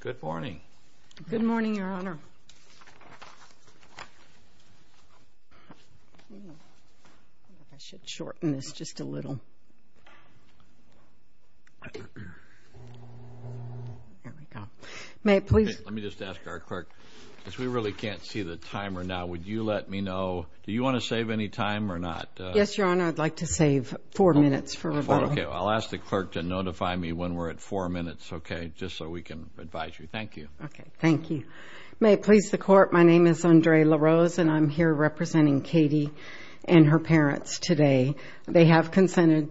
Good morning. Good morning, Your Honor. I should shorten this just a little. There we go. May I please? Let me just ask our clerk, as we really can't see the timer now, would you let me know, do you want to save any time or not? Yes, Your Honor, I'd like to save four minutes for rebuttal. Okay, I'll ask the clerk to notify me when we're at four minutes, okay, just so we can advise you. Thank you. Okay, thank you. May it please the Court, my name is Andre LaRose and I'm here representing Katie and her parents today. They have consented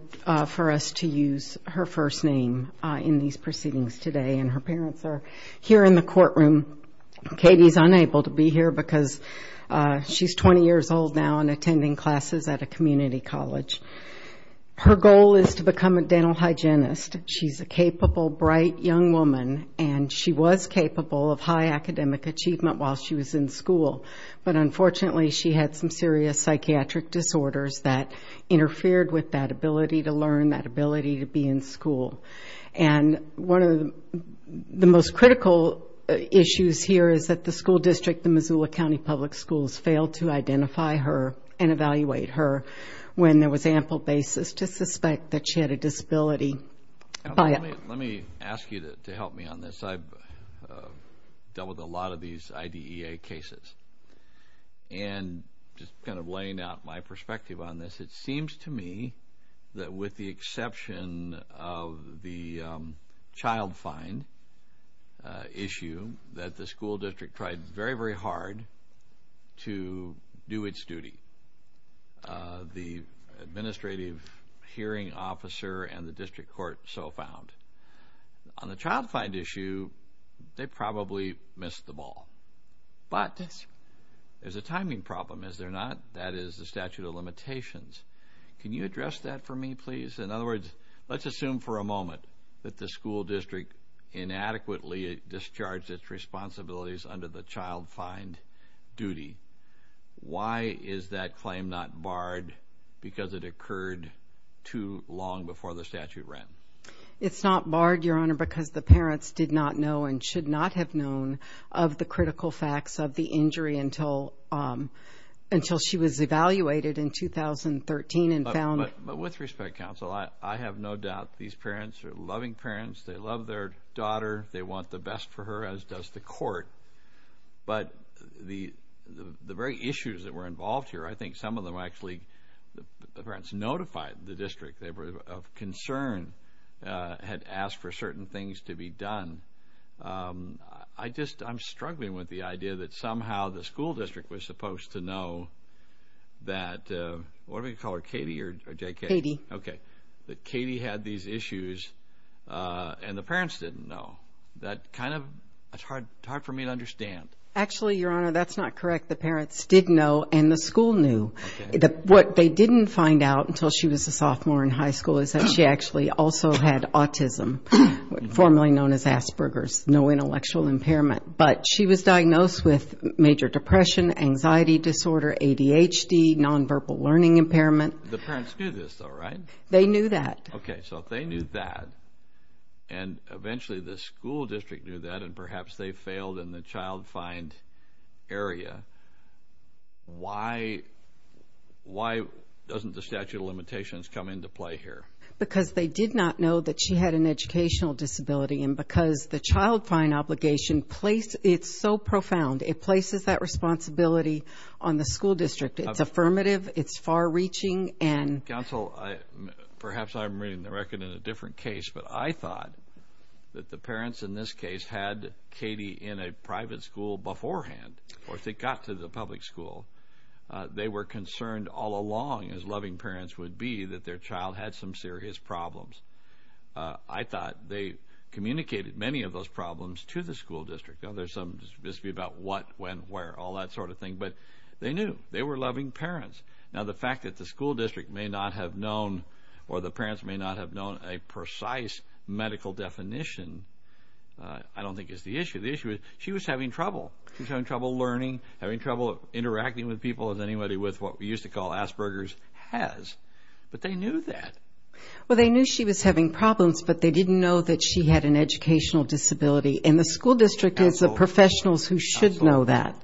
for us to use her first name in these proceedings today and her parents are here in the courtroom. Katie is unable to be here because she's 20 years old now and attending classes at a capable bright young woman and she was capable of high academic achievement while she was in school, but unfortunately she had some serious psychiatric disorders that interfered with that ability to learn, that ability to be in school. And one of the most critical issues here is that the school district, the Missoula County Public Schools, failed to identify her and evaluate her when there was ample basis to suspect that she had a disability by her age. Let me ask you to help me on this. I've dealt with a lot of these IDEA cases and just kind of laying out my perspective on this, it seems to me that with the exception of the child fine issue that the school district tried very, very hard to do its duty. The administrative hearing officer and the on the child find issue, they probably missed the ball. But there's a timing problem, is there not? That is the statute of limitations. Can you address that for me, please? In other words, let's assume for a moment that the school district inadequately discharged its responsibilities under the child find duty. Why is that claim not barred? Because it occurred too long before the barred, Your Honor, because the parents did not know and should not have known of the critical facts of the injury until until she was evaluated in 2013 and found. But with respect, counsel, I have no doubt these parents are loving parents. They love their daughter. They want the best for her, as does the court. But the very issues that were involved here, I think some of them asked for certain things to be done. I just I'm struggling with the idea that somehow the school district was supposed to know that, what do we call her, Katie or JK? Katie. Okay. That Katie had these issues and the parents didn't know. That kind of, it's hard, hard for me to understand. Actually, Your Honor, that's not correct. The parents did know and the school knew that what they didn't find out until she was a sophomore in high school is that she actually also had autism, formerly known as Asperger's, no intellectual impairment. But she was diagnosed with major depression, anxiety disorder, ADHD, nonverbal learning impairment. The parents knew this though, right? They knew that. Okay. So they knew that. And eventually the school district knew that and perhaps they failed in the child find area. Why? Why doesn't the statute of limitations come into play here? Because they did not know that she had an educational disability and because the child find obligation placed, it's so profound, it places that responsibility on the school district. It's affirmative, it's far-reaching and... Counsel, perhaps I'm reading the record in a different case, but I thought that the parents in this case had Katie in a private school beforehand or if they got to the public school, they were concerned all along, as loving parents would be, that their child had some serious problems. I thought they communicated many of those problems to the school district. Now there's some, just to be about what, when, where, all that sort of thing, but they knew. They were loving parents. Now the fact that the school district may not have known or the parents may not have known a precise medical definition, I don't think is the issue. The issue is she was having trouble. She was having trouble learning, having trouble interacting with people as anybody with what we used to call Asperger's has, but they knew that. Well, they knew she was having problems, but they didn't know that she had an educational disability and the school district is the professionals who should know that.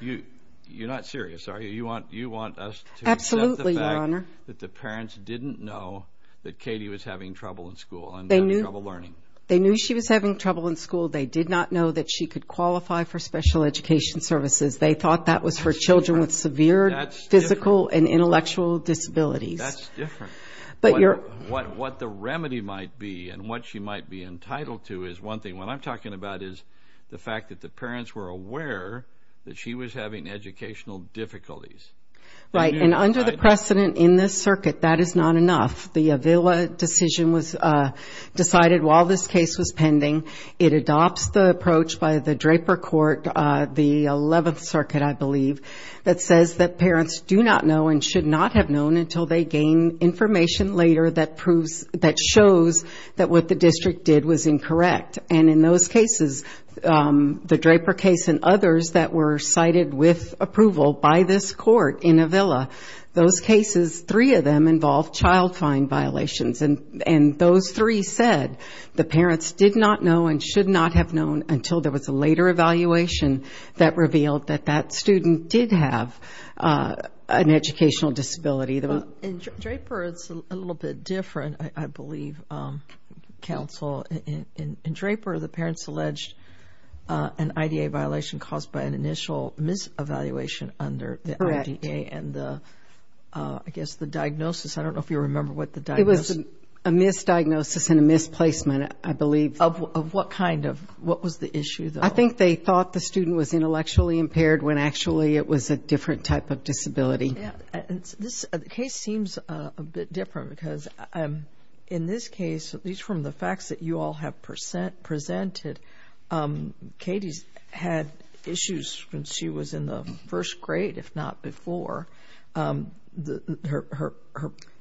You're not serious, are you? You want us to accept the fact that the parents didn't know that Katie was having trouble in school and having trouble learning. They knew she was having trouble in school. They did not know that she could qualify for special education services. They thought that was for children with severe physical and intellectual disabilities. That's different. But you're... What the remedy might be and what she might be entitled to is one thing. What I'm talking about is the fact that the parents were aware that she was having educational difficulties. Right, and under the precedent in this circuit, that is not enough. The Avila decision was decided while this case was pending. It adopts the approach by the Draper Court, the 11th Circuit, I believe, that says that parents do not know and should not have known until they gain information later that proves, that shows that what the district did was incorrect. And in those cases, the Draper case and others that were cited with approval by this court in Avila, those cases, three of them involved child fine violations. And those three said the parents did not know and should not have known until there was a later evaluation that revealed that that student did have an educational disability. In Draper, it's a little bit different, I believe, counsel. In Draper, the parents alleged an IDA violation caused by an initial mis-evaluation under the IDA and the, I guess, the diagnosis. I don't know if you remember what the diagnosis... A misdiagnosis and a misplacement, I believe. Of what kind of? What was the issue, though? I think they thought the student was intellectually impaired when, actually, it was a different type of disability. This case seems a bit different because, in this case, at least from the facts that you all have presented, Katie's had issues when she was in the first grade, if not before. Her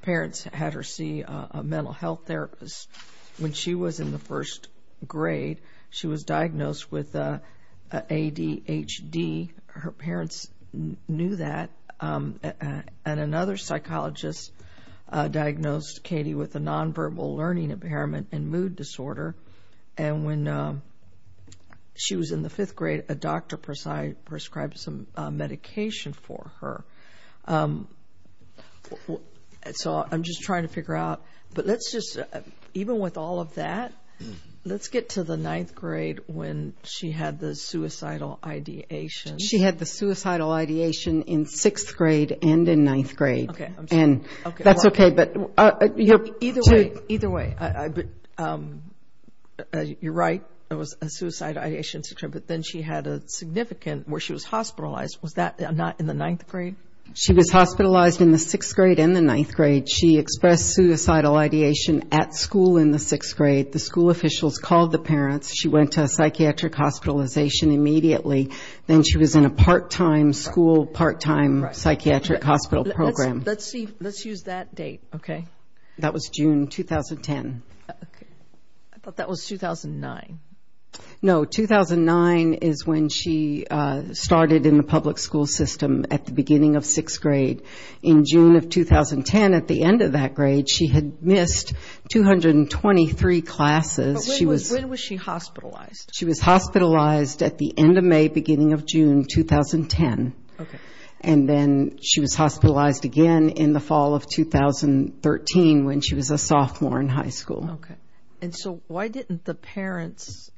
parents had her see a mental health therapist. When she was in the first grade, she was diagnosed with ADHD. Her parents knew that. And another psychologist diagnosed Katie with a nonverbal learning impairment and mood disorder. And when she was in the fifth grade, a doctor prescribed some medication for her. So I'm just trying to figure out, but let's just, even with all of that, let's get to the ninth grade when she had the suicidal ideation. She had the suicidal ideation in sixth grade and in ninth grade. Okay. I'm sorry. That's okay, but... Either way. You're right. It was a suicidal ideation, but then she had a significant, where she was in the ninth grade? She was hospitalized in the sixth grade and the ninth grade. She expressed suicidal ideation at school in the sixth grade. The school officials called the parents. She went to a psychiatric hospitalization immediately. Then she was in a part-time school, part-time psychiatric hospital program. Let's use that date, okay? That was June 2010. I thought that was 2009. No, 2009 is when she started in the public school system at the beginning of sixth grade. In June of 2010, at the end of that grade, she had missed 223 classes. When was she hospitalized? She was hospitalized at the end of May, beginning of June 2010. Okay. And then she was hospitalized again in the fall of 2013 when she was a sophomore in high school. Okay. And so why didn't the parents,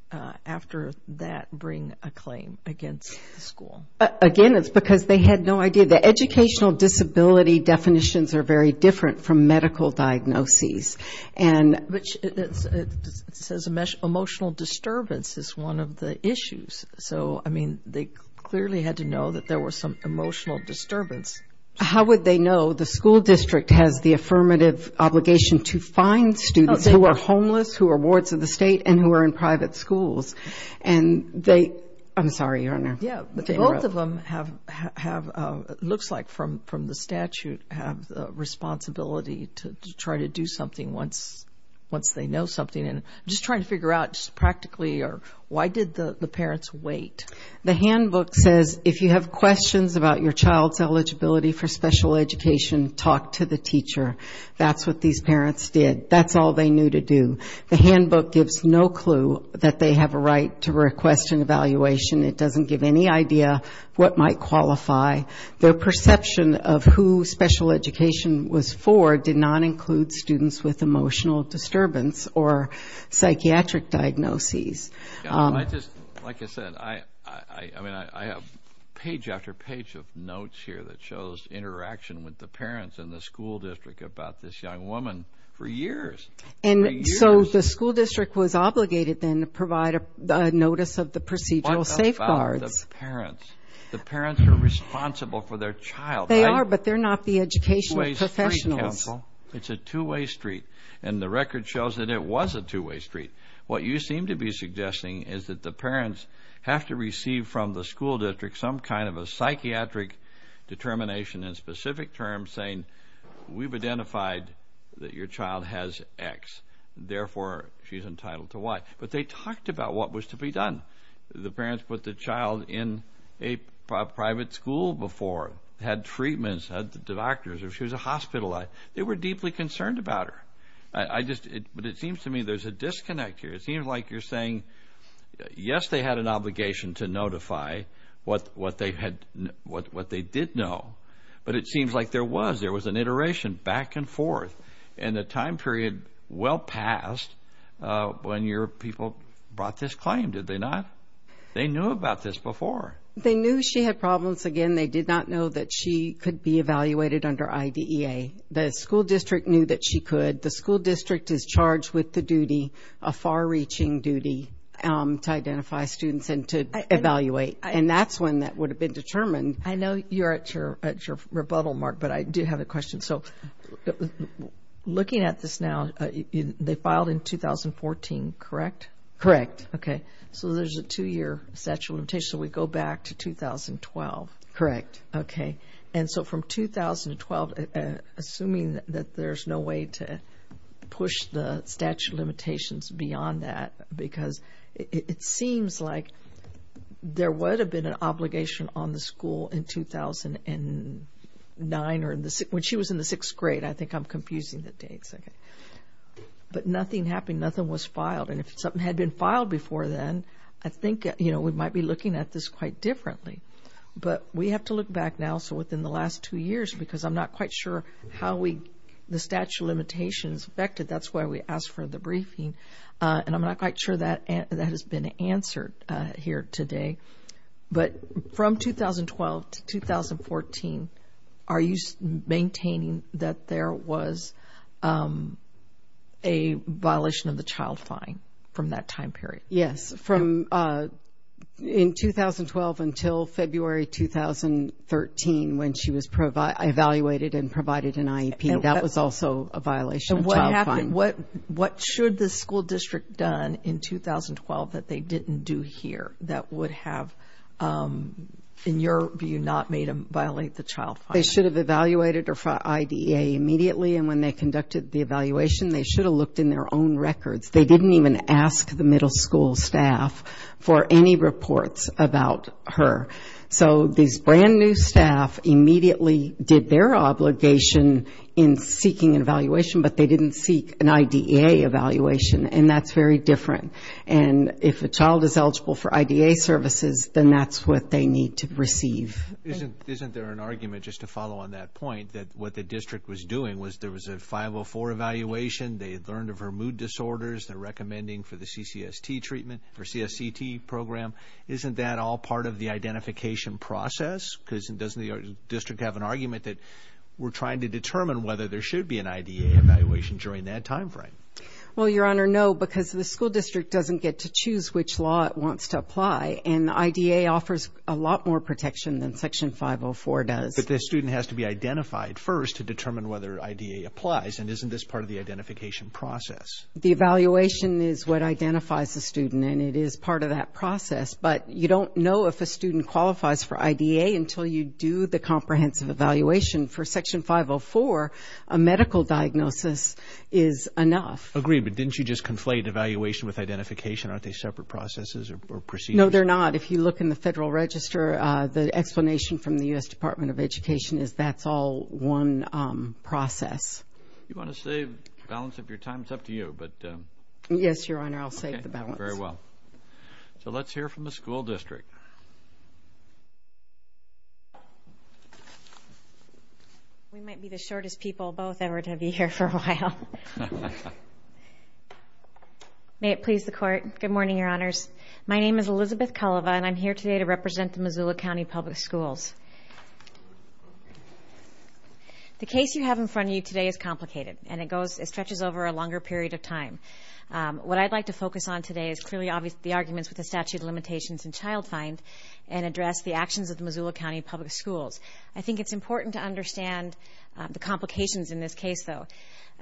after that, bring a claim against the school? Again, it's because they had no idea. The educational disability definitions are very different from medical diagnoses. It says emotional disturbance is one of the issues. So, I mean, they clearly had to know that there was some emotional disturbance. How would they know? The school district has the affirmative obligation to find students who are homeless, who are wards of the state, and who are in private schools. And they... I'm sorry, Your Honor. Yeah. Both of them have, it looks like from the statute, have the responsibility to try to do something once they know something. I'm just trying to figure out, just practically, why did the parents wait? The handbook says, if you have questions about your child's eligibility for special education, talk to the That's all they knew to do. The handbook gives no clue that they have a right to request an evaluation. It doesn't give any idea what might qualify. Their perception of who special education was for did not include students with emotional disturbance or psychiatric diagnoses. I just, like I said, I mean, I have page after page of notes here that shows interaction with the parents and the school district about this young woman for years. And so the school district was obligated then to provide a notice of the procedural safeguards. What about the parents? The parents are responsible for their child, right? They are, but they're not the educational professionals. It's a two-way street, counsel. It's a two-way street. And the record shows that it was a two-way street. What you seem to be suggesting is that the parents have to receive from the school district some kind of a psychiatric determination in specific terms saying, we've identified that your child has X, therefore she's entitled to Y. But they talked about what was to be done. The parents put the child in a private school before, had treatments, had the doctors, or she was hospitalized. They were deeply concerned about her. But it seems to me there's a disconnect here. It seems like you're saying, yes, they had an obligation to notify what they did know, but it seems like there was. There was an iteration back and forth, and a time period well past when your people brought this claim, did they not? They knew about this before. They knew she had problems. Again, they did not know that she could be evaluated under IDEA. The school district knew that she could. The school district is charged with the duty, a far-reaching duty, to identify students and to evaluate. And that's when that would have been determined. I know you're at your rebuttal, Mark, but I do have a question. So looking at this now, they filed in 2014, correct? Correct. Okay. So there's a two-year statute of limitations, so we go back to 2012. Correct. Okay. And so from 2012, assuming that there's no way to push the statute of limitations beyond that, because it seems like there would have been an in 2009, or when she was in the sixth grade. I think I'm confusing the dates. Okay. But nothing happened. Nothing was filed. And if something had been filed before then, I think we might be looking at this quite differently. But we have to look back now, so within the last two years, because I'm not quite sure how the statute of limitations affected. That's why we asked for the briefing, and I'm not quite sure that has been answered here today. But from 2012 to 2014, are you maintaining that there was a violation of the child fine from that time period? Yes. From in 2012 until February 2013, when she was evaluated and provided an IEP, that was also a violation of child fine. What should the school district have done in 2012 that they didn't do here that would have, in your view, not made them violate the child fine? They should have evaluated her for IDEA immediately, and when they conducted the evaluation, they should have looked in their own records. They didn't even ask the middle school staff for any reports about her. So these brand new staff immediately did their obligation in seeking an evaluation, but they didn't seek an IDEA evaluation, and that's very different. And if a child is eligible for IDEA services, then that's what they need to receive. Isn't there an argument, just to follow on that point, that what the district was doing was there was a 504 evaluation, they had learned of her mood disorders, they're recommending for the CCST treatment, for CSCT program. Isn't that all part of the identification process? Because doesn't the district have an argument that we're trying to determine whether there should be an IDEA evaluation during that time frame? Well, Your Honor, no, because the school district doesn't get to choose which law it wants to apply, and IDEA offers a lot more protection than Section 504 does. But the student has to be identified first to determine whether IDEA applies, and isn't this part of the identification process? The evaluation is what identifies the student, and it is part of that process, but you don't know if a student qualifies for IDEA until you do the Section 504. A medical diagnosis is enough. Agreed, but didn't you just conflate evaluation with identification? Aren't they separate processes or procedures? No, they're not. If you look in the Federal Register, the explanation from the U.S. Department of Education is that's all one process. You want to save balance of your time? It's up to you, but... Yes, Your Honor, I'll save the balance. Very well. So let's hear from the school district. We might be the shortest people both ever to be here for a while. May it please the Court. Good morning, Your Honors. My name is Elizabeth Culliva, and I'm here today to represent the Missoula County Public Schools. The case you have in front of you today is complicated, and it goes, it stretches over a longer period of time. What I'd like to focus on today is clearly obvious, the arguments with the statute of limitations and child find, and address the actions of the Missoula County Public Schools. I think it's important to understand the complications in this case, though.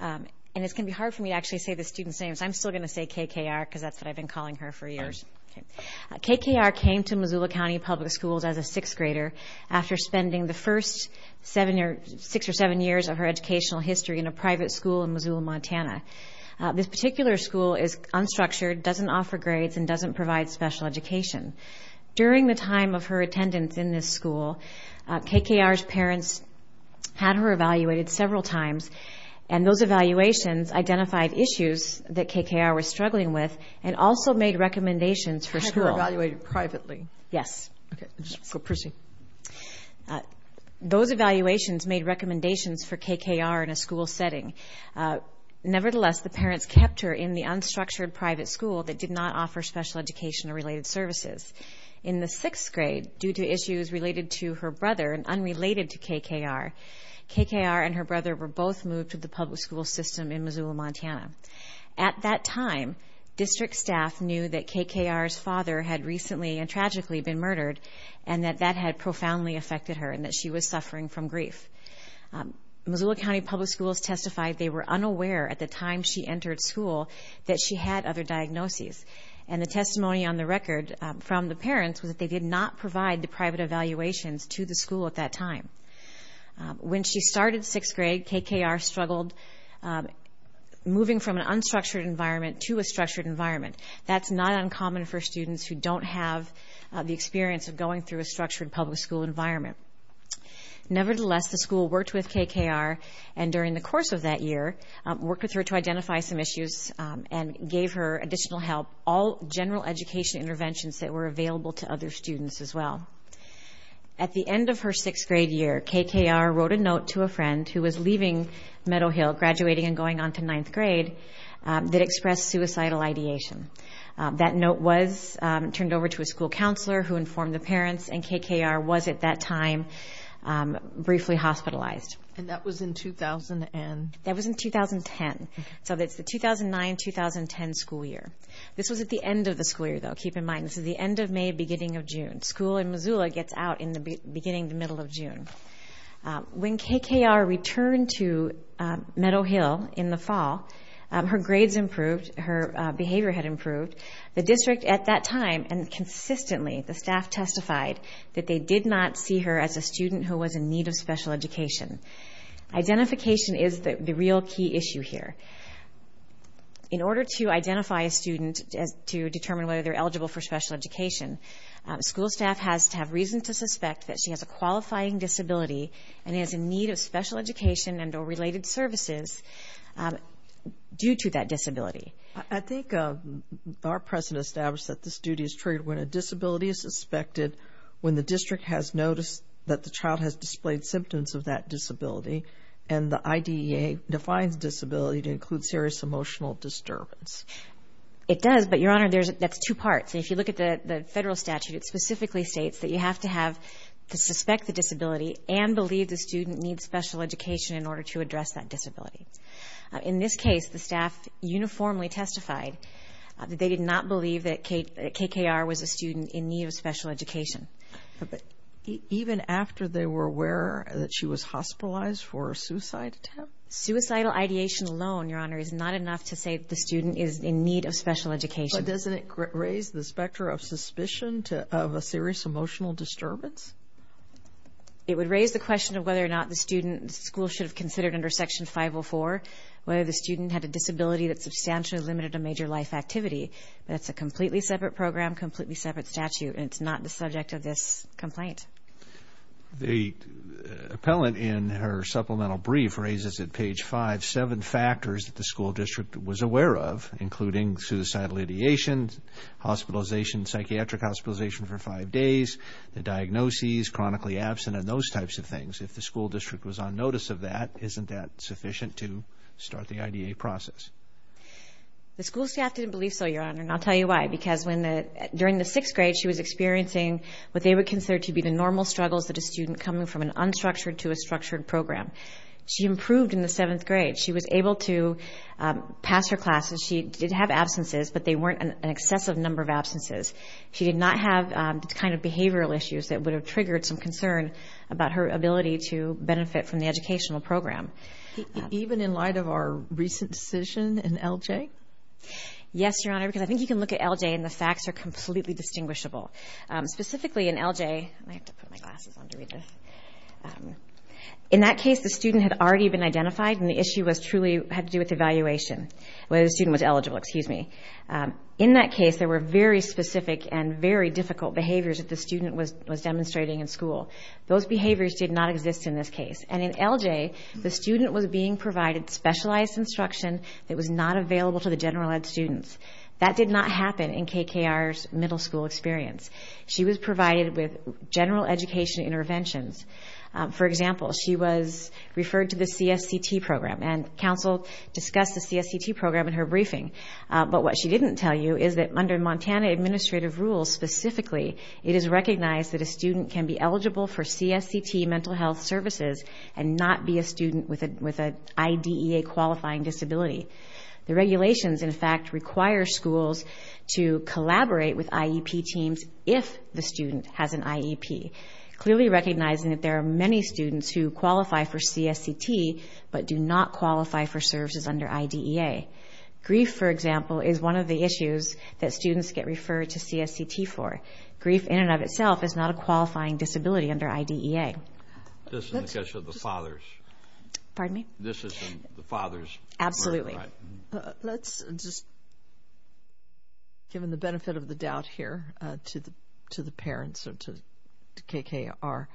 And it's going to be hard for me to actually say the students' names. I'm still going to say KKR, because that's what I've been calling her for years. KKR came to Missoula County Public Schools as a sixth grader after spending the first six or seven years of her educational history in a private school in Missoula, Montana. This particular school is unstructured, doesn't offer grades, and doesn't provide special education. During the time of her attendance in this school, KKR's parents had her evaluated several times, and those evaluations identified issues that KKR was struggling with, and also made recommendations for school. Had her evaluated privately? Yes. Okay, go proceed. Those evaluations made recommendations for KKR in a school setting. Nevertheless, the parents kept her in the unstructured private school that did not offer special education or related services. In the sixth grade, due to issues related to her brother and unrelated to KKR, KKR and her brother were both moved to the public school system in Missoula, Montana. At that time, district staff knew that KKR's father had recently and tragically been murdered, and that that had profoundly affected her, and that she was suffering from grief. Missoula County Public Schools testified they were unaware at the time she entered school that she had other diagnoses. And the testimony on the record from the parents was that they did not provide the private evaluations to the school at that time. When she started sixth grade, KKR struggled moving from an unstructured environment to a structured environment. That's not uncommon for students who don't have the experience of going through a structured public school environment. Nevertheless, the school worked with KKR, and during the course of that year, worked with her to identify some issues and gave her additional help, all general education interventions that were available to other students as well. At the end of her sixth grade year, KKR wrote a note to a friend who was leaving Meadow Hill, graduating and going on to ninth grade, that expressed suicidal ideation. That note was turned over to a school counselor who informed the parents, and KKR was, at that time, briefly hospitalized. And that was in 2010? That was in 2010. So that's the 2009-2010 school year. This was at the end of the school year, though. Keep in mind, this is the end of May, beginning of June. School in Missoula gets out in the beginning, the middle of June. When KKR returned to Meadow Hill in the fall, her grades improved, her behavior had improved. The district at that time, and consistently, the staff testified that they did not see her as a student who was in need of special education. Identification is the real key issue here. In order to identify a student, to determine whether they're eligible for special education, school staff has to have reason to suspect that she has a qualifying disability and is in need of special education and or related services due to that disability. I think our president established that this duty is triggered when a disability is suspected, when the district has noticed that the child has displayed symptoms of that disability, and the IDEA defines disability to include serious emotional disturbance. It does, but, Your Honor, that's two parts. If you look at the federal statute, it specifically states that you have to have to suspect the disability and believe the student needs special education in order to address that disability. In this case, the staff uniformly testified that they did not believe that KKR was a student in need of special education. Even after they were aware that she was hospitalized for a suicide attempt? Suicidal ideation alone, Your Honor, is not enough to say the student is in need of special education. Doesn't it raise the specter of suspicion of a serious emotional disturbance? It would raise the question of whether or not the student, school should have considered under Section 504, whether the student had a disability that substantially limited a major life activity. That's a completely separate program, completely separate statute, and it's not the subject of this complaint. The appellant, in her supplemental brief, raises at page five, seven factors that the school district was aware of, including suicidal ideation, hospitalization, psychiatric hospitalization for five days, the diagnoses, chronically absent, and those types of things. If the school district was on notice of that, isn't that sufficient to start the IDEA process? The school staff didn't believe so, Your Honor, and I'll tell you why. Because during the sixth grade, she was experiencing what they would consider to be the normal struggles that a student coming from an unstructured to a structured program. She improved in the seventh grade. She was able to pass her classes. She did have absences, but they weren't an excessive number of absences. She did not have the kind of behavioral issues that would have triggered some concern about her ability to benefit from the educational program. Even in light of our recent decision in L.J.? Yes, Your Honor, because I think you can look at L.J., and the facts are completely distinguishable. Specifically in L.J. I have to put my glasses on to read this. In that case, the student had already been identified, and the issue truly had to do with evaluation, whether the student was eligible, excuse me. In that case, there were very specific and very difficult behaviors that the student was demonstrating in school. Those behaviors did not exist in this case. And in L.J., the student was being provided specialized instruction that was not available to the general ed students. That did not happen in KKR's middle school experience. She was provided with general education interventions. For example, she was referred to the CSCT program, and counsel discussed the CSCT program in her briefing. But what she didn't tell you is that under Montana administrative rules specifically, it is recognized that a student can be eligible for CSCT mental health services not be a student with an IDEA qualifying disability. The regulations, in fact, require schools to collaborate with IEP teams if the student has an IEP, clearly recognizing that there are many students who qualify for CSCT, but do not qualify for services under IDEA. Grief, for example, is one of the issues that students get referred to CSCT for. Grief in and of itself is not a qualifying disability under IDEA. This is in the case of the fathers. Pardon me? This is in the fathers. Absolutely. Let's just, given the benefit of the doubt here to the parents or to KKR,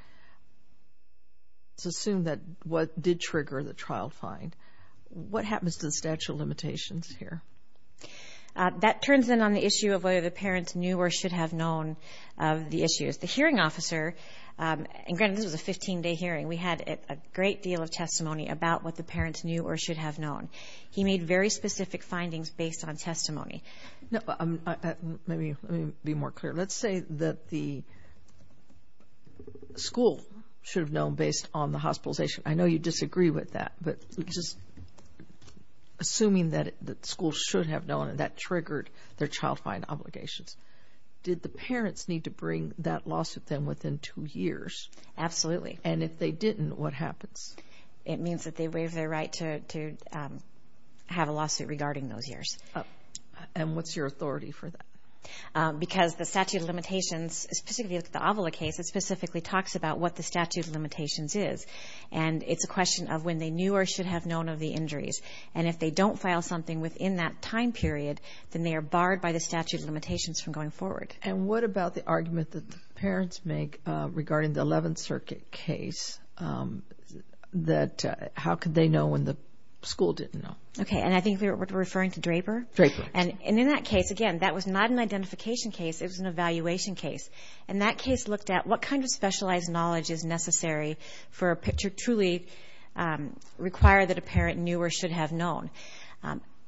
let's assume that what did trigger the trial fine. What happens to the statute of limitations here? That turns in on the issue of whether the parents knew or should have known the issues. The hearing officer, and granted this was a 15-day hearing, we had a great deal of testimony about what the parents knew or should have known. He made very specific findings based on testimony. Let me be more clear. Let's say that the school should have known based on the hospitalization. I know you disagree with that, but just assuming that the school should have known and that triggered their trial fine obligations. Did the parents need to bring that lawsuit then within two years? Absolutely. And if they didn't, what happens? It means that they waive their right to have a lawsuit regarding those years. And what's your authority for that? Because the statute of limitations, especially if you look at the Avila case, it specifically talks about what the statute of limitations is. And it's a question of when they knew or should have known of the injuries. And if they don't file something within that time period, then they are barred by the statute of limitations from going forward. And what about the argument that the parents make regarding the 11th Circuit case that how could they know when the school didn't know? Okay, and I think we're referring to Draper? Draper. And in that case, again, that was not an identification case. It was an evaluation case. And that case looked at what kind of specialized knowledge is necessary for a picture to truly require that a parent knew or should have known.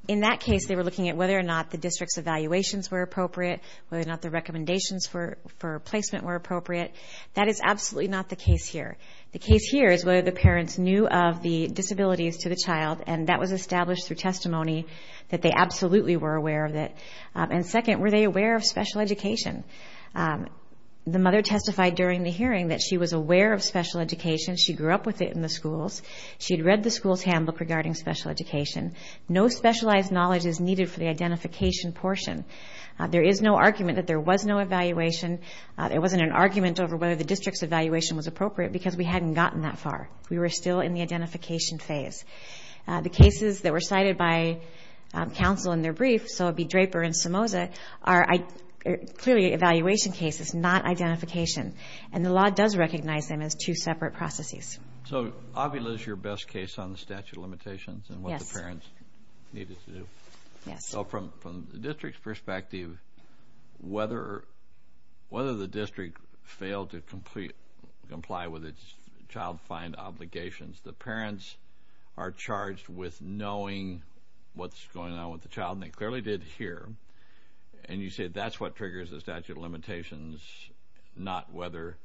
In that case, they were looking at whether or not the district's evaluations were appropriate, whether or not the recommendations for placement were appropriate. That is absolutely not the case here. The case here is whether the parents knew of the disabilities to the child. And that was established through testimony that they absolutely were aware of it. And second, were they aware of special education? The mother testified during the hearing that she was aware of special education. She grew up with it in the schools. She'd read the school's handbook regarding special education. No specialized knowledge is needed for the identification portion. There is no argument that there was no evaluation. There wasn't an argument over whether the district's evaluation was appropriate because we hadn't gotten that far. We were still in the identification phase. The cases that were cited by counsel in their brief, so it would be Draper and Somoza, are clearly evaluation cases, not identification. And the law does recognize them as two separate processes. So Avila is your best case on the statute of limitations and what the parents needed to do? Yes. So from the district's perspective, whether the district failed to comply with its child find obligations, the parents are charged with knowing what's going on with the child. And they clearly did here. Not whether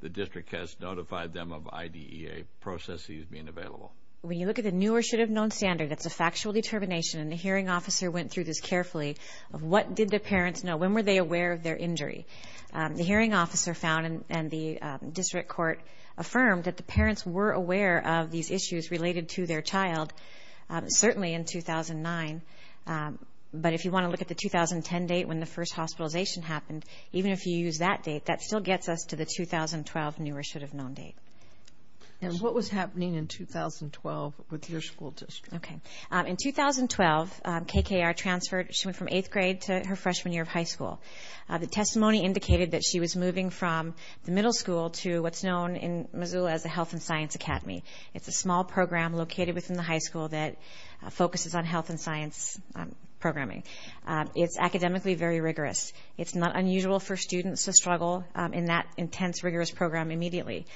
the district has notified them of IDEA processes being available. When you look at the new or should have known standard, it's a factual determination. And the hearing officer went through this carefully of what did the parents know? When were they aware of their injury? The hearing officer found and the district court affirmed that the parents were aware of these issues related to their child, certainly in 2009. But if you want to look at the 2010 date when the first hospitalization happened, even if you use that date, that still gets us to the 2012 new or should have known date. And what was happening in 2012 with your school district? Okay. In 2012, KKR transferred. She went from eighth grade to her freshman year of high school. The testimony indicated that she was moving from the middle school to what's known in Missoula as the Health and Science Academy. It's a small program located within the high school that focuses on health and science programming. It's academically very rigorous. It's not unusual for students to struggle in that intense, rigorous program immediately.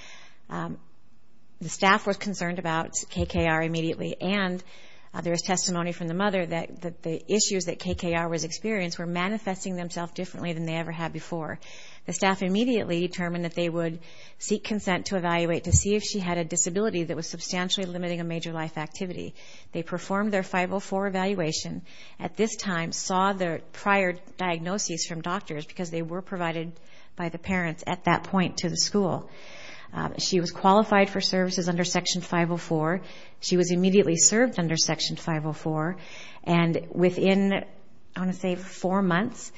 The staff was concerned about KKR immediately. And there is testimony from the mother that the issues that KKR was experiencing were manifesting themselves differently than they ever had before. The staff immediately determined that they would seek consent to evaluate to see if she had a disability that was substantially limiting a major life activity. They performed their 504 evaluation. At this time, saw the prior diagnoses from doctors because they were provided by the parents at that point to the school. She was qualified for services under Section 504. She was immediately served under Section 504. And within, I want to say, four months,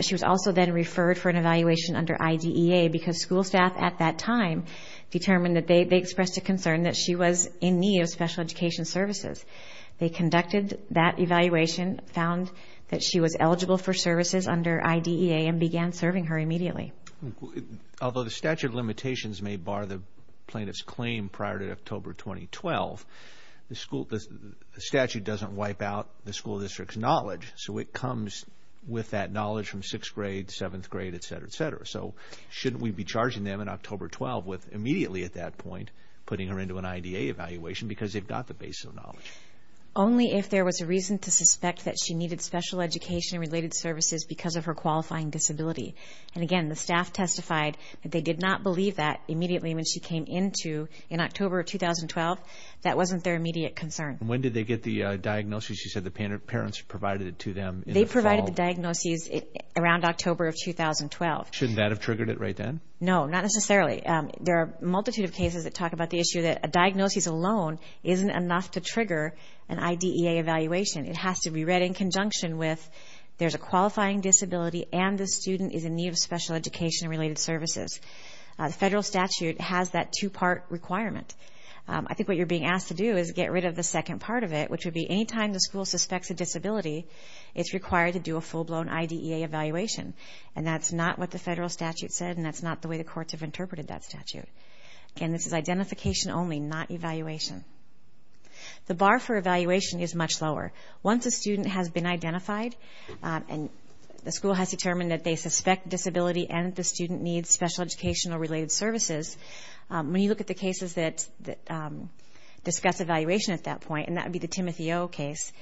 she was also then referred for an evaluation under IDEA because school staff at that time determined that they expressed a concern that she was in need of special education services. They conducted that evaluation, found that she was eligible for services under IDEA and began serving her immediately. Although the statute of limitations may bar the plaintiff's claim prior to October 2012, the statute doesn't wipe out the school district's knowledge. So it comes with that knowledge from sixth grade, seventh grade, et cetera, et cetera. So shouldn't we be charging them in October 12 with immediately at that point putting her into an IDEA evaluation because they've got the base of knowledge? Only if there was a reason to suspect that she needed special education-related services because of her qualifying disability. And again, the staff testified that they did not believe that immediately when she came into in October of 2012. That wasn't their immediate concern. When did they get the diagnosis? You said the parents provided it to them. They provided the diagnosis around October of 2012. Shouldn't that have triggered it right then? No, not necessarily. There are a multitude of cases that talk about the issue that a diagnosis alone isn't enough to trigger an IDEA evaluation. It has to be read in conjunction with there's a qualifying disability and the student is in need of special education-related services. The federal statute has that two-part requirement. I think what you're being asked to do is get rid of the second part of it, which would be any time the school suspects a disability, it's required to do a full-blown IDEA evaluation. And that's not what the federal statute said and that's not the way the courts have that statute. Again, this is identification only, not evaluation. The bar for evaluation is much lower. Once a student has been identified and the school has determined that they suspect disability and the student needs special education-related services, when you look at the cases that discuss evaluation at that point, and that would be the Timothy O case,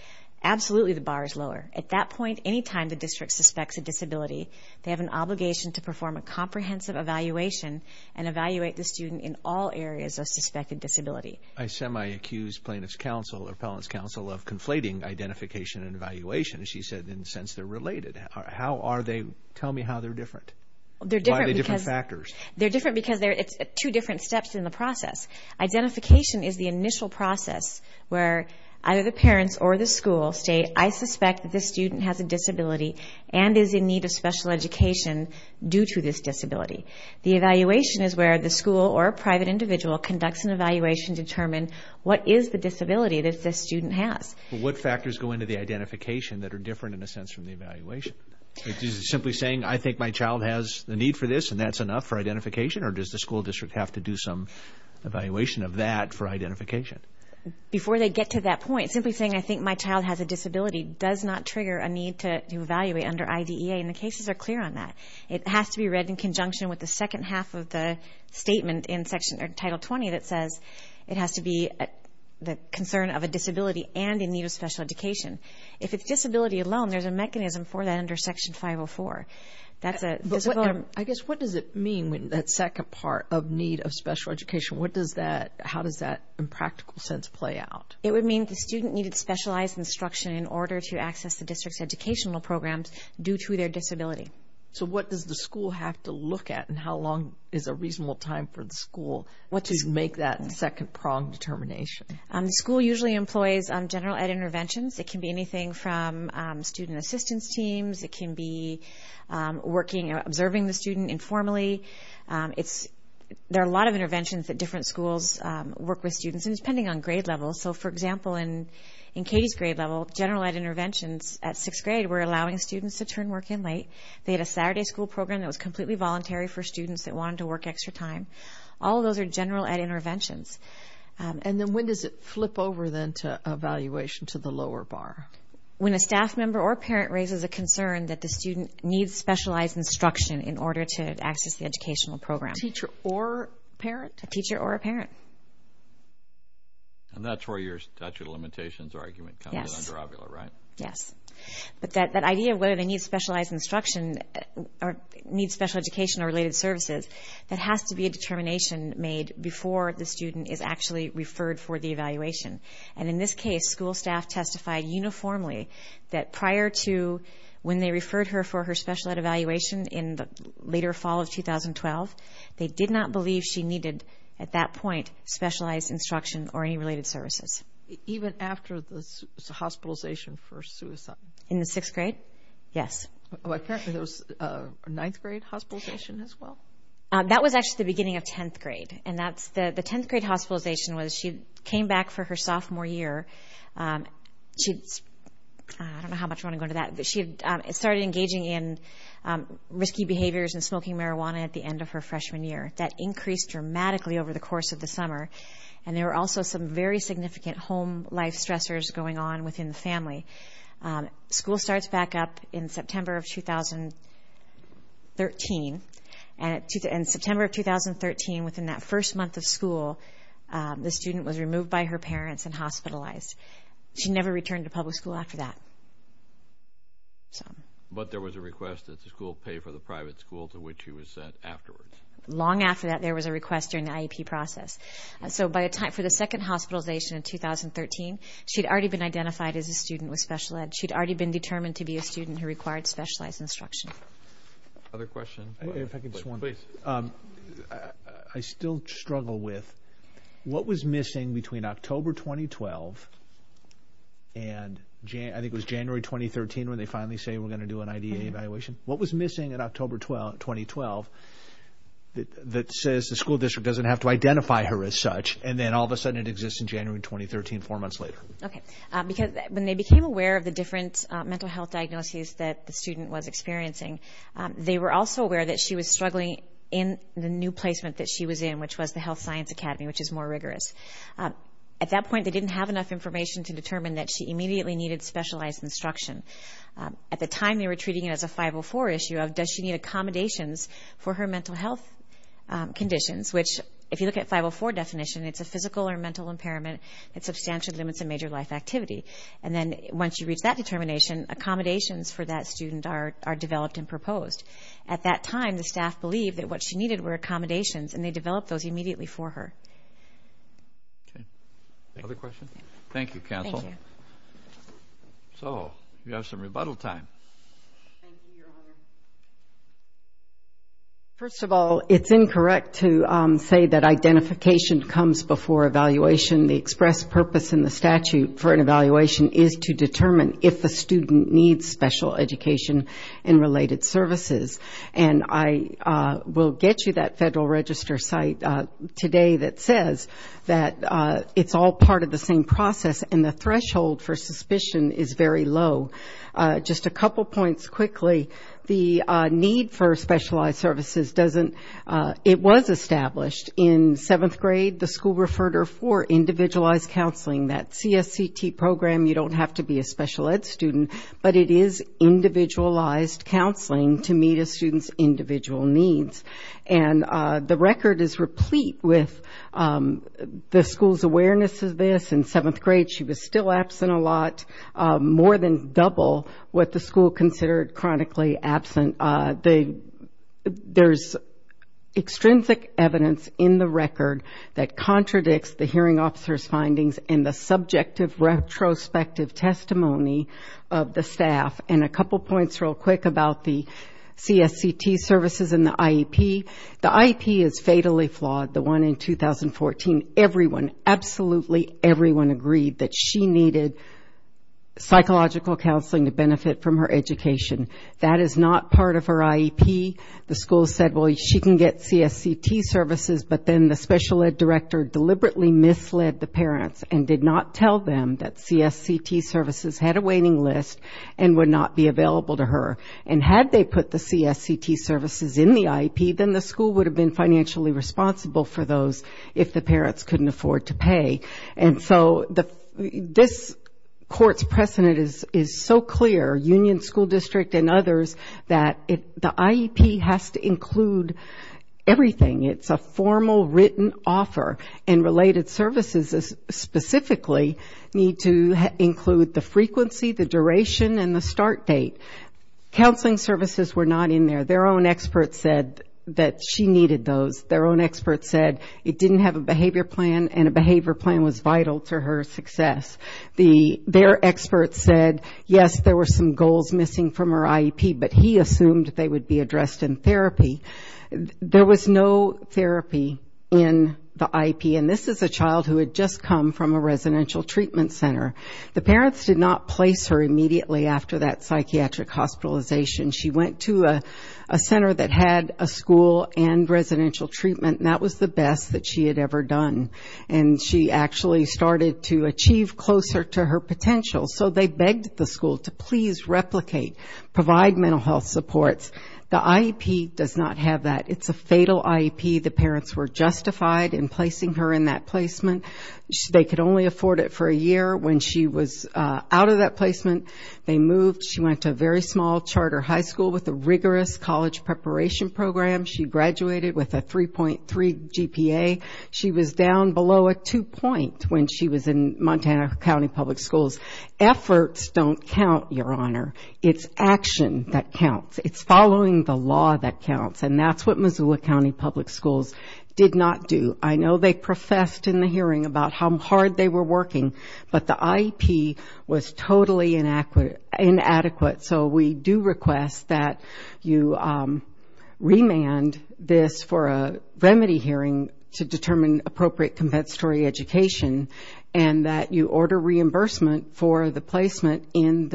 absolutely the bar is lower. At that point, any time the district suspects a disability, they have an obligation to perform a comprehensive evaluation and evaluate the student in all areas of suspected disability. I semi-accused plaintiff's counsel or appellant's counsel of conflating identification and evaluation. She said, in a sense, they're related. How are they? Tell me how they're different. They're different because they're different because it's two different steps in the process. Identification is the initial process where either the parents or the school state, I The evaluation is where the school or private individual conducts an evaluation to determine what is the disability that this student has. What factors go into the identification that are different, in a sense, from the evaluation? Is it simply saying, I think my child has the need for this and that's enough for identification? Or does the school district have to do some evaluation of that for identification? Before they get to that point, simply saying, I think my child has a disability does not trigger a need to evaluate under IDEA. The cases are clear on that. It has to be read in conjunction with the second half of the statement in Title 20 that says it has to be the concern of a disability and in need of special education. If it's disability alone, there's a mechanism for that under Section 504. I guess what does it mean when that second part of need of special education, what does that, how does that in practical sense play out? It would mean the student needed specialized instruction in order to access the district's educational programs due to their disability. So what does the school have to look at and how long is a reasonable time for the school to make that second prong determination? The school usually employs general ed interventions. It can be anything from student assistance teams. It can be working, observing the student informally. There are a lot of interventions that different schools work with students, and it's depending on grade level. So, for example, in Katie's grade level, general ed interventions at sixth grade were a Saturday school program that was completely voluntary for students that wanted to work extra time. All of those are general ed interventions. And then when does it flip over then to evaluation to the lower bar? When a staff member or parent raises a concern that the student needs specialized instruction in order to access the educational program. Teacher or parent? A teacher or a parent. And that's where your statute of limitations argument comes in under OVILA, right? Yes. But that idea of whether they need specialized instruction or need special education or related services, that has to be a determination made before the student is actually referred for the evaluation. And in this case, school staff testified uniformly that prior to when they referred her for her special ed evaluation in the later fall of 2012, they did not believe she needed, at that point, specialized instruction or any related services. Even after the hospitalization for suicide? In the sixth grade? Yes. Apparently, there was a ninth grade hospitalization as well? That was actually the beginning of 10th grade. And the 10th grade hospitalization was she came back for her sophomore year. She started engaging in risky behaviors and smoking marijuana at the end of her freshman year. That increased dramatically over the course of the summer. And there were also some very significant home life stressors going on within the family. School starts back up in September of 2013. In September of 2013, within that first month of school, the student was removed by her parents and hospitalized. She never returned to public school after that. But there was a request that the school pay for the private school to which she was sent afterwards? Long after that, there was a request during the IEP process. So by the time for the second hospitalization in 2013, she'd already been identified as a student with special ed. She'd already been determined to be a student who required specialized instruction. Other questions? I still struggle with what was missing between October 2012 and I think it was January 2013 when they finally say we're going to do an IDA evaluation. What was missing in October 2012 that says the school district doesn't have to identify her as such and then all of a sudden it exists in January 2013, four months later? Okay. Because when they became aware of the different mental health diagnoses that the student was experiencing, they were also aware that she was struggling in the new placement that she was in, which was the Health Science Academy, which is more rigorous. At that point, they didn't have enough information to determine that she immediately needed specialized instruction. At the time, they were treating it as a 504 issue of does she need accommodations for her mental health conditions? Which if you look at 504 definition, it's a physical or mental impairment that substantially limits a major life activity. And then once you reach that determination, accommodations for that student are developed and proposed. At that time, the staff believed that what she needed were accommodations and they developed those immediately for her. Other questions? Thank you, Counsel. So, we have some rebuttal time. Thank you, Your Honor. First of all, it's incorrect to say that identification comes before evaluation. The express purpose in the statute for an evaluation is to determine if the student needs special education and related services. And I will get you that Federal Register site today that says that it's all part of the same process and the threshold for suspicion is very low. Just a couple points quickly. The need for specialized services doesn't, it was established in seventh grade, the school referred her for individualized counseling. That CSCT program, you don't have to be a special ed student, but it is individualized counseling to meet a student's individual needs. And the record is replete with the school's awareness of this. In seventh grade, she was still absent a lot. More than double what the school considered chronically absent. There's extrinsic evidence in the record that contradicts the hearing officer's findings and the subjective retrospective testimony of the staff. And a couple points real quick about the CSCT services and the IEP. The IEP is fatally flawed, the one in 2014. Everyone, absolutely everyone agreed that she needed psychological counseling to benefit from her education. That is not part of her IEP. The school said, well, she can get CSCT services, but then the special ed director deliberately misled the parents and did not tell them that CSCT services had a waiting list and would not be available to her. And had they put the CSCT services in the IEP, then the school would have been financially responsible for those if the parents couldn't afford to pay. And so this court's precedent is so clear, Union School District and others, that the IEP has to include everything. It's a formal written offer. And related services specifically need to include the frequency, the duration, and the start date. Counseling services were not in there. Their own expert said that she needed those. Their own expert said it didn't have a behavior plan, and a behavior plan was vital to her success. Their expert said, yes, there were some goals missing from her IEP, but he assumed they would be addressed in therapy. There was no therapy in the IEP. And this is a child who had just come from a residential treatment center. The parents did not place her immediately after that psychiatric hospitalization. She went to a center that had a school and residential treatment, and that was the best that she had ever done. And she actually started to achieve closer to her potential. So they begged the school to please replicate, provide mental health supports. The IEP does not have that. It's a fatal IEP. The parents were justified in placing her in that placement. They could only afford it for a year. When she was out of that placement, they moved. She went to a very small charter high school with a rigorous college preparation program. She graduated with a 3.3 GPA. She was down below a 2 point when she was in Montana County Public Schools. Efforts don't count, Your Honor. It's action that counts. It's following the law that counts. And that's what Missoula County Public Schools did not do. I know they professed in the hearing about how hard they were working, but the IEP was totally inadequate. So we do request that you remand this for a remedy hearing to determine appropriate compensatory education, and that you order reimbursement for the placement in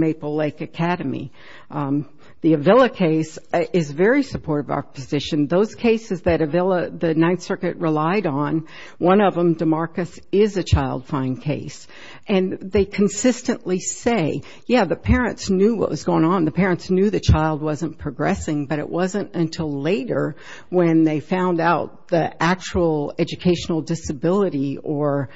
Maple Lake Academy. The Avila case is very supportive of our position. Those cases that the Ninth Circuit relied on, one of them, DeMarcus, is a child fine case. And they consistently say, yeah, the parents knew what was going on. The parents knew the child wasn't progressing, but it wasn't until later when they found out the actual educational disability or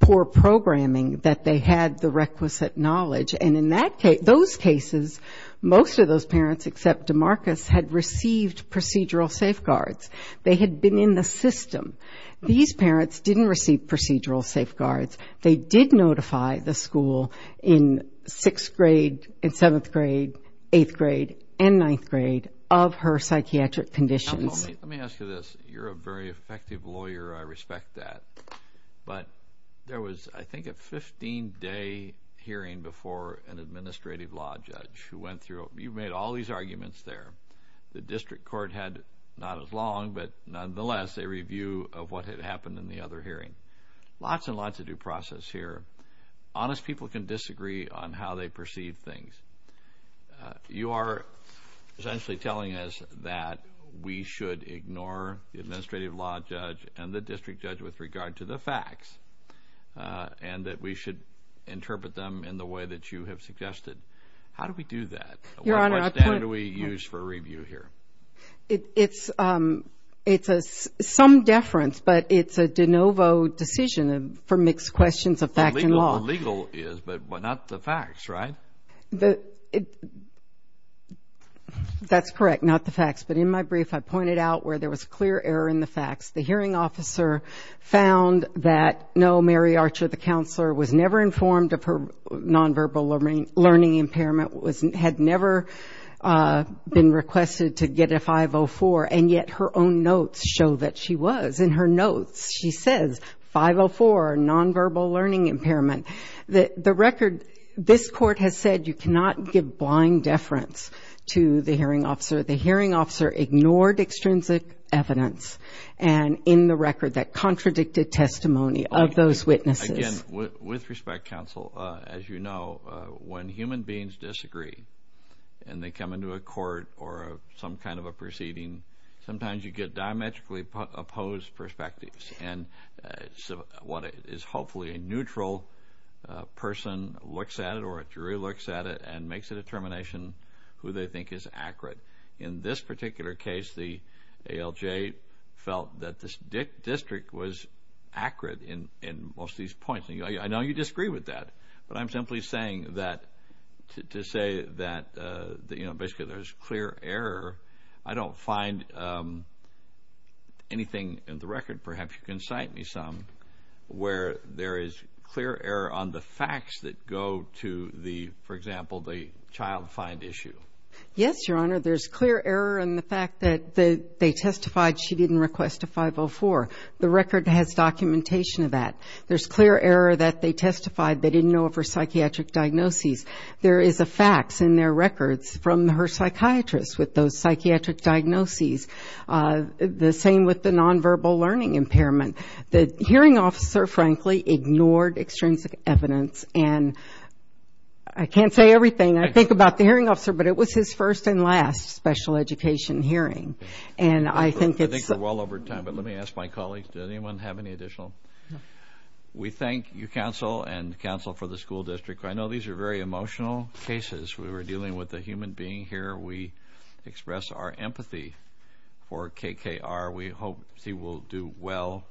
poor programming that they had the requisite knowledge. And in those cases, most of those parents except DeMarcus had received procedural safeguards. They had been in the system. These parents didn't receive procedural safeguards. They did notify the school in 6th grade and 7th grade, 8th grade, and 9th grade of her psychiatric conditions. Let me ask you this. You're a very effective lawyer. I respect that. But there was, I think, a 15-day hearing before an administrative law judge who went through it. You made all these arguments there. The district court had not as long, but nonetheless, a review of what had happened in the other hearing. Lots and lots of due process here. Honest people can disagree on how they perceive things. You are essentially telling us that we should ignore the administrative law judge and the district judge with regard to the facts, and that we should interpret them in the way that you have suggested. How do we do that? What standard do we use for review here? It's some deference, but it's a de novo decision for mixed questions of fact and law. The legal is, but not the facts, right? That's correct, not the facts. But in my brief, I pointed out where there was clear error in the facts. The hearing officer found that no, Mary Archer, the counselor, was never informed of her nonverbal learning impairment, had never been requested to get a 504, and yet her own notes show that she was. In her notes, she says 504, nonverbal learning impairment. The record, this court has said you cannot give blind deference to the hearing officer. The hearing officer ignored extrinsic evidence, and in the record, that contradicted testimony of those witnesses. Again, with respect, counsel, as you know, when human beings disagree, and they come into a court or some kind of a proceeding, sometimes you get diametrically opposed perspectives, and what is hopefully a neutral person looks at it, or a jury looks at it, and makes a determination who they think is accurate. In this particular case, the ALJ felt that this district was accurate in most of these points. I know you disagree with that, but I'm simply saying that, to say that, you know, basically there's clear error. I don't find anything in the record, perhaps you can cite me some, where there is clear error on the facts that go to the, for example, the child find issue. Yes, Your Honor, there's clear error in the fact that they testified she didn't request a 504. The record has documentation of that. There's clear error that they testified they didn't know of her psychiatric diagnoses. There is a fax in their records from her psychiatrist with those psychiatric diagnoses. The same with the nonverbal learning impairment. The hearing officer, frankly, ignored extrinsic evidence, and I can't say everything I think about the hearing officer, but it was his first and last special education hearing, and I think it's... I think we're well over time, but let me ask my colleagues, does anyone have any additional? We thank you, counsel, and counsel for the school district. I know these are very emotional cases. We were dealing with a human being here. We express our empathy for KKR. We hope she will do well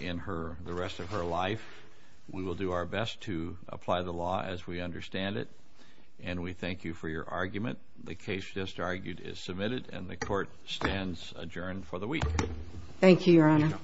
in her, the rest of her life. We will do our best to apply the law as we understand it, and we thank you for your argument. The case just argued is submitted, and the court stands adjourned for the week. Thank you, Your Honor.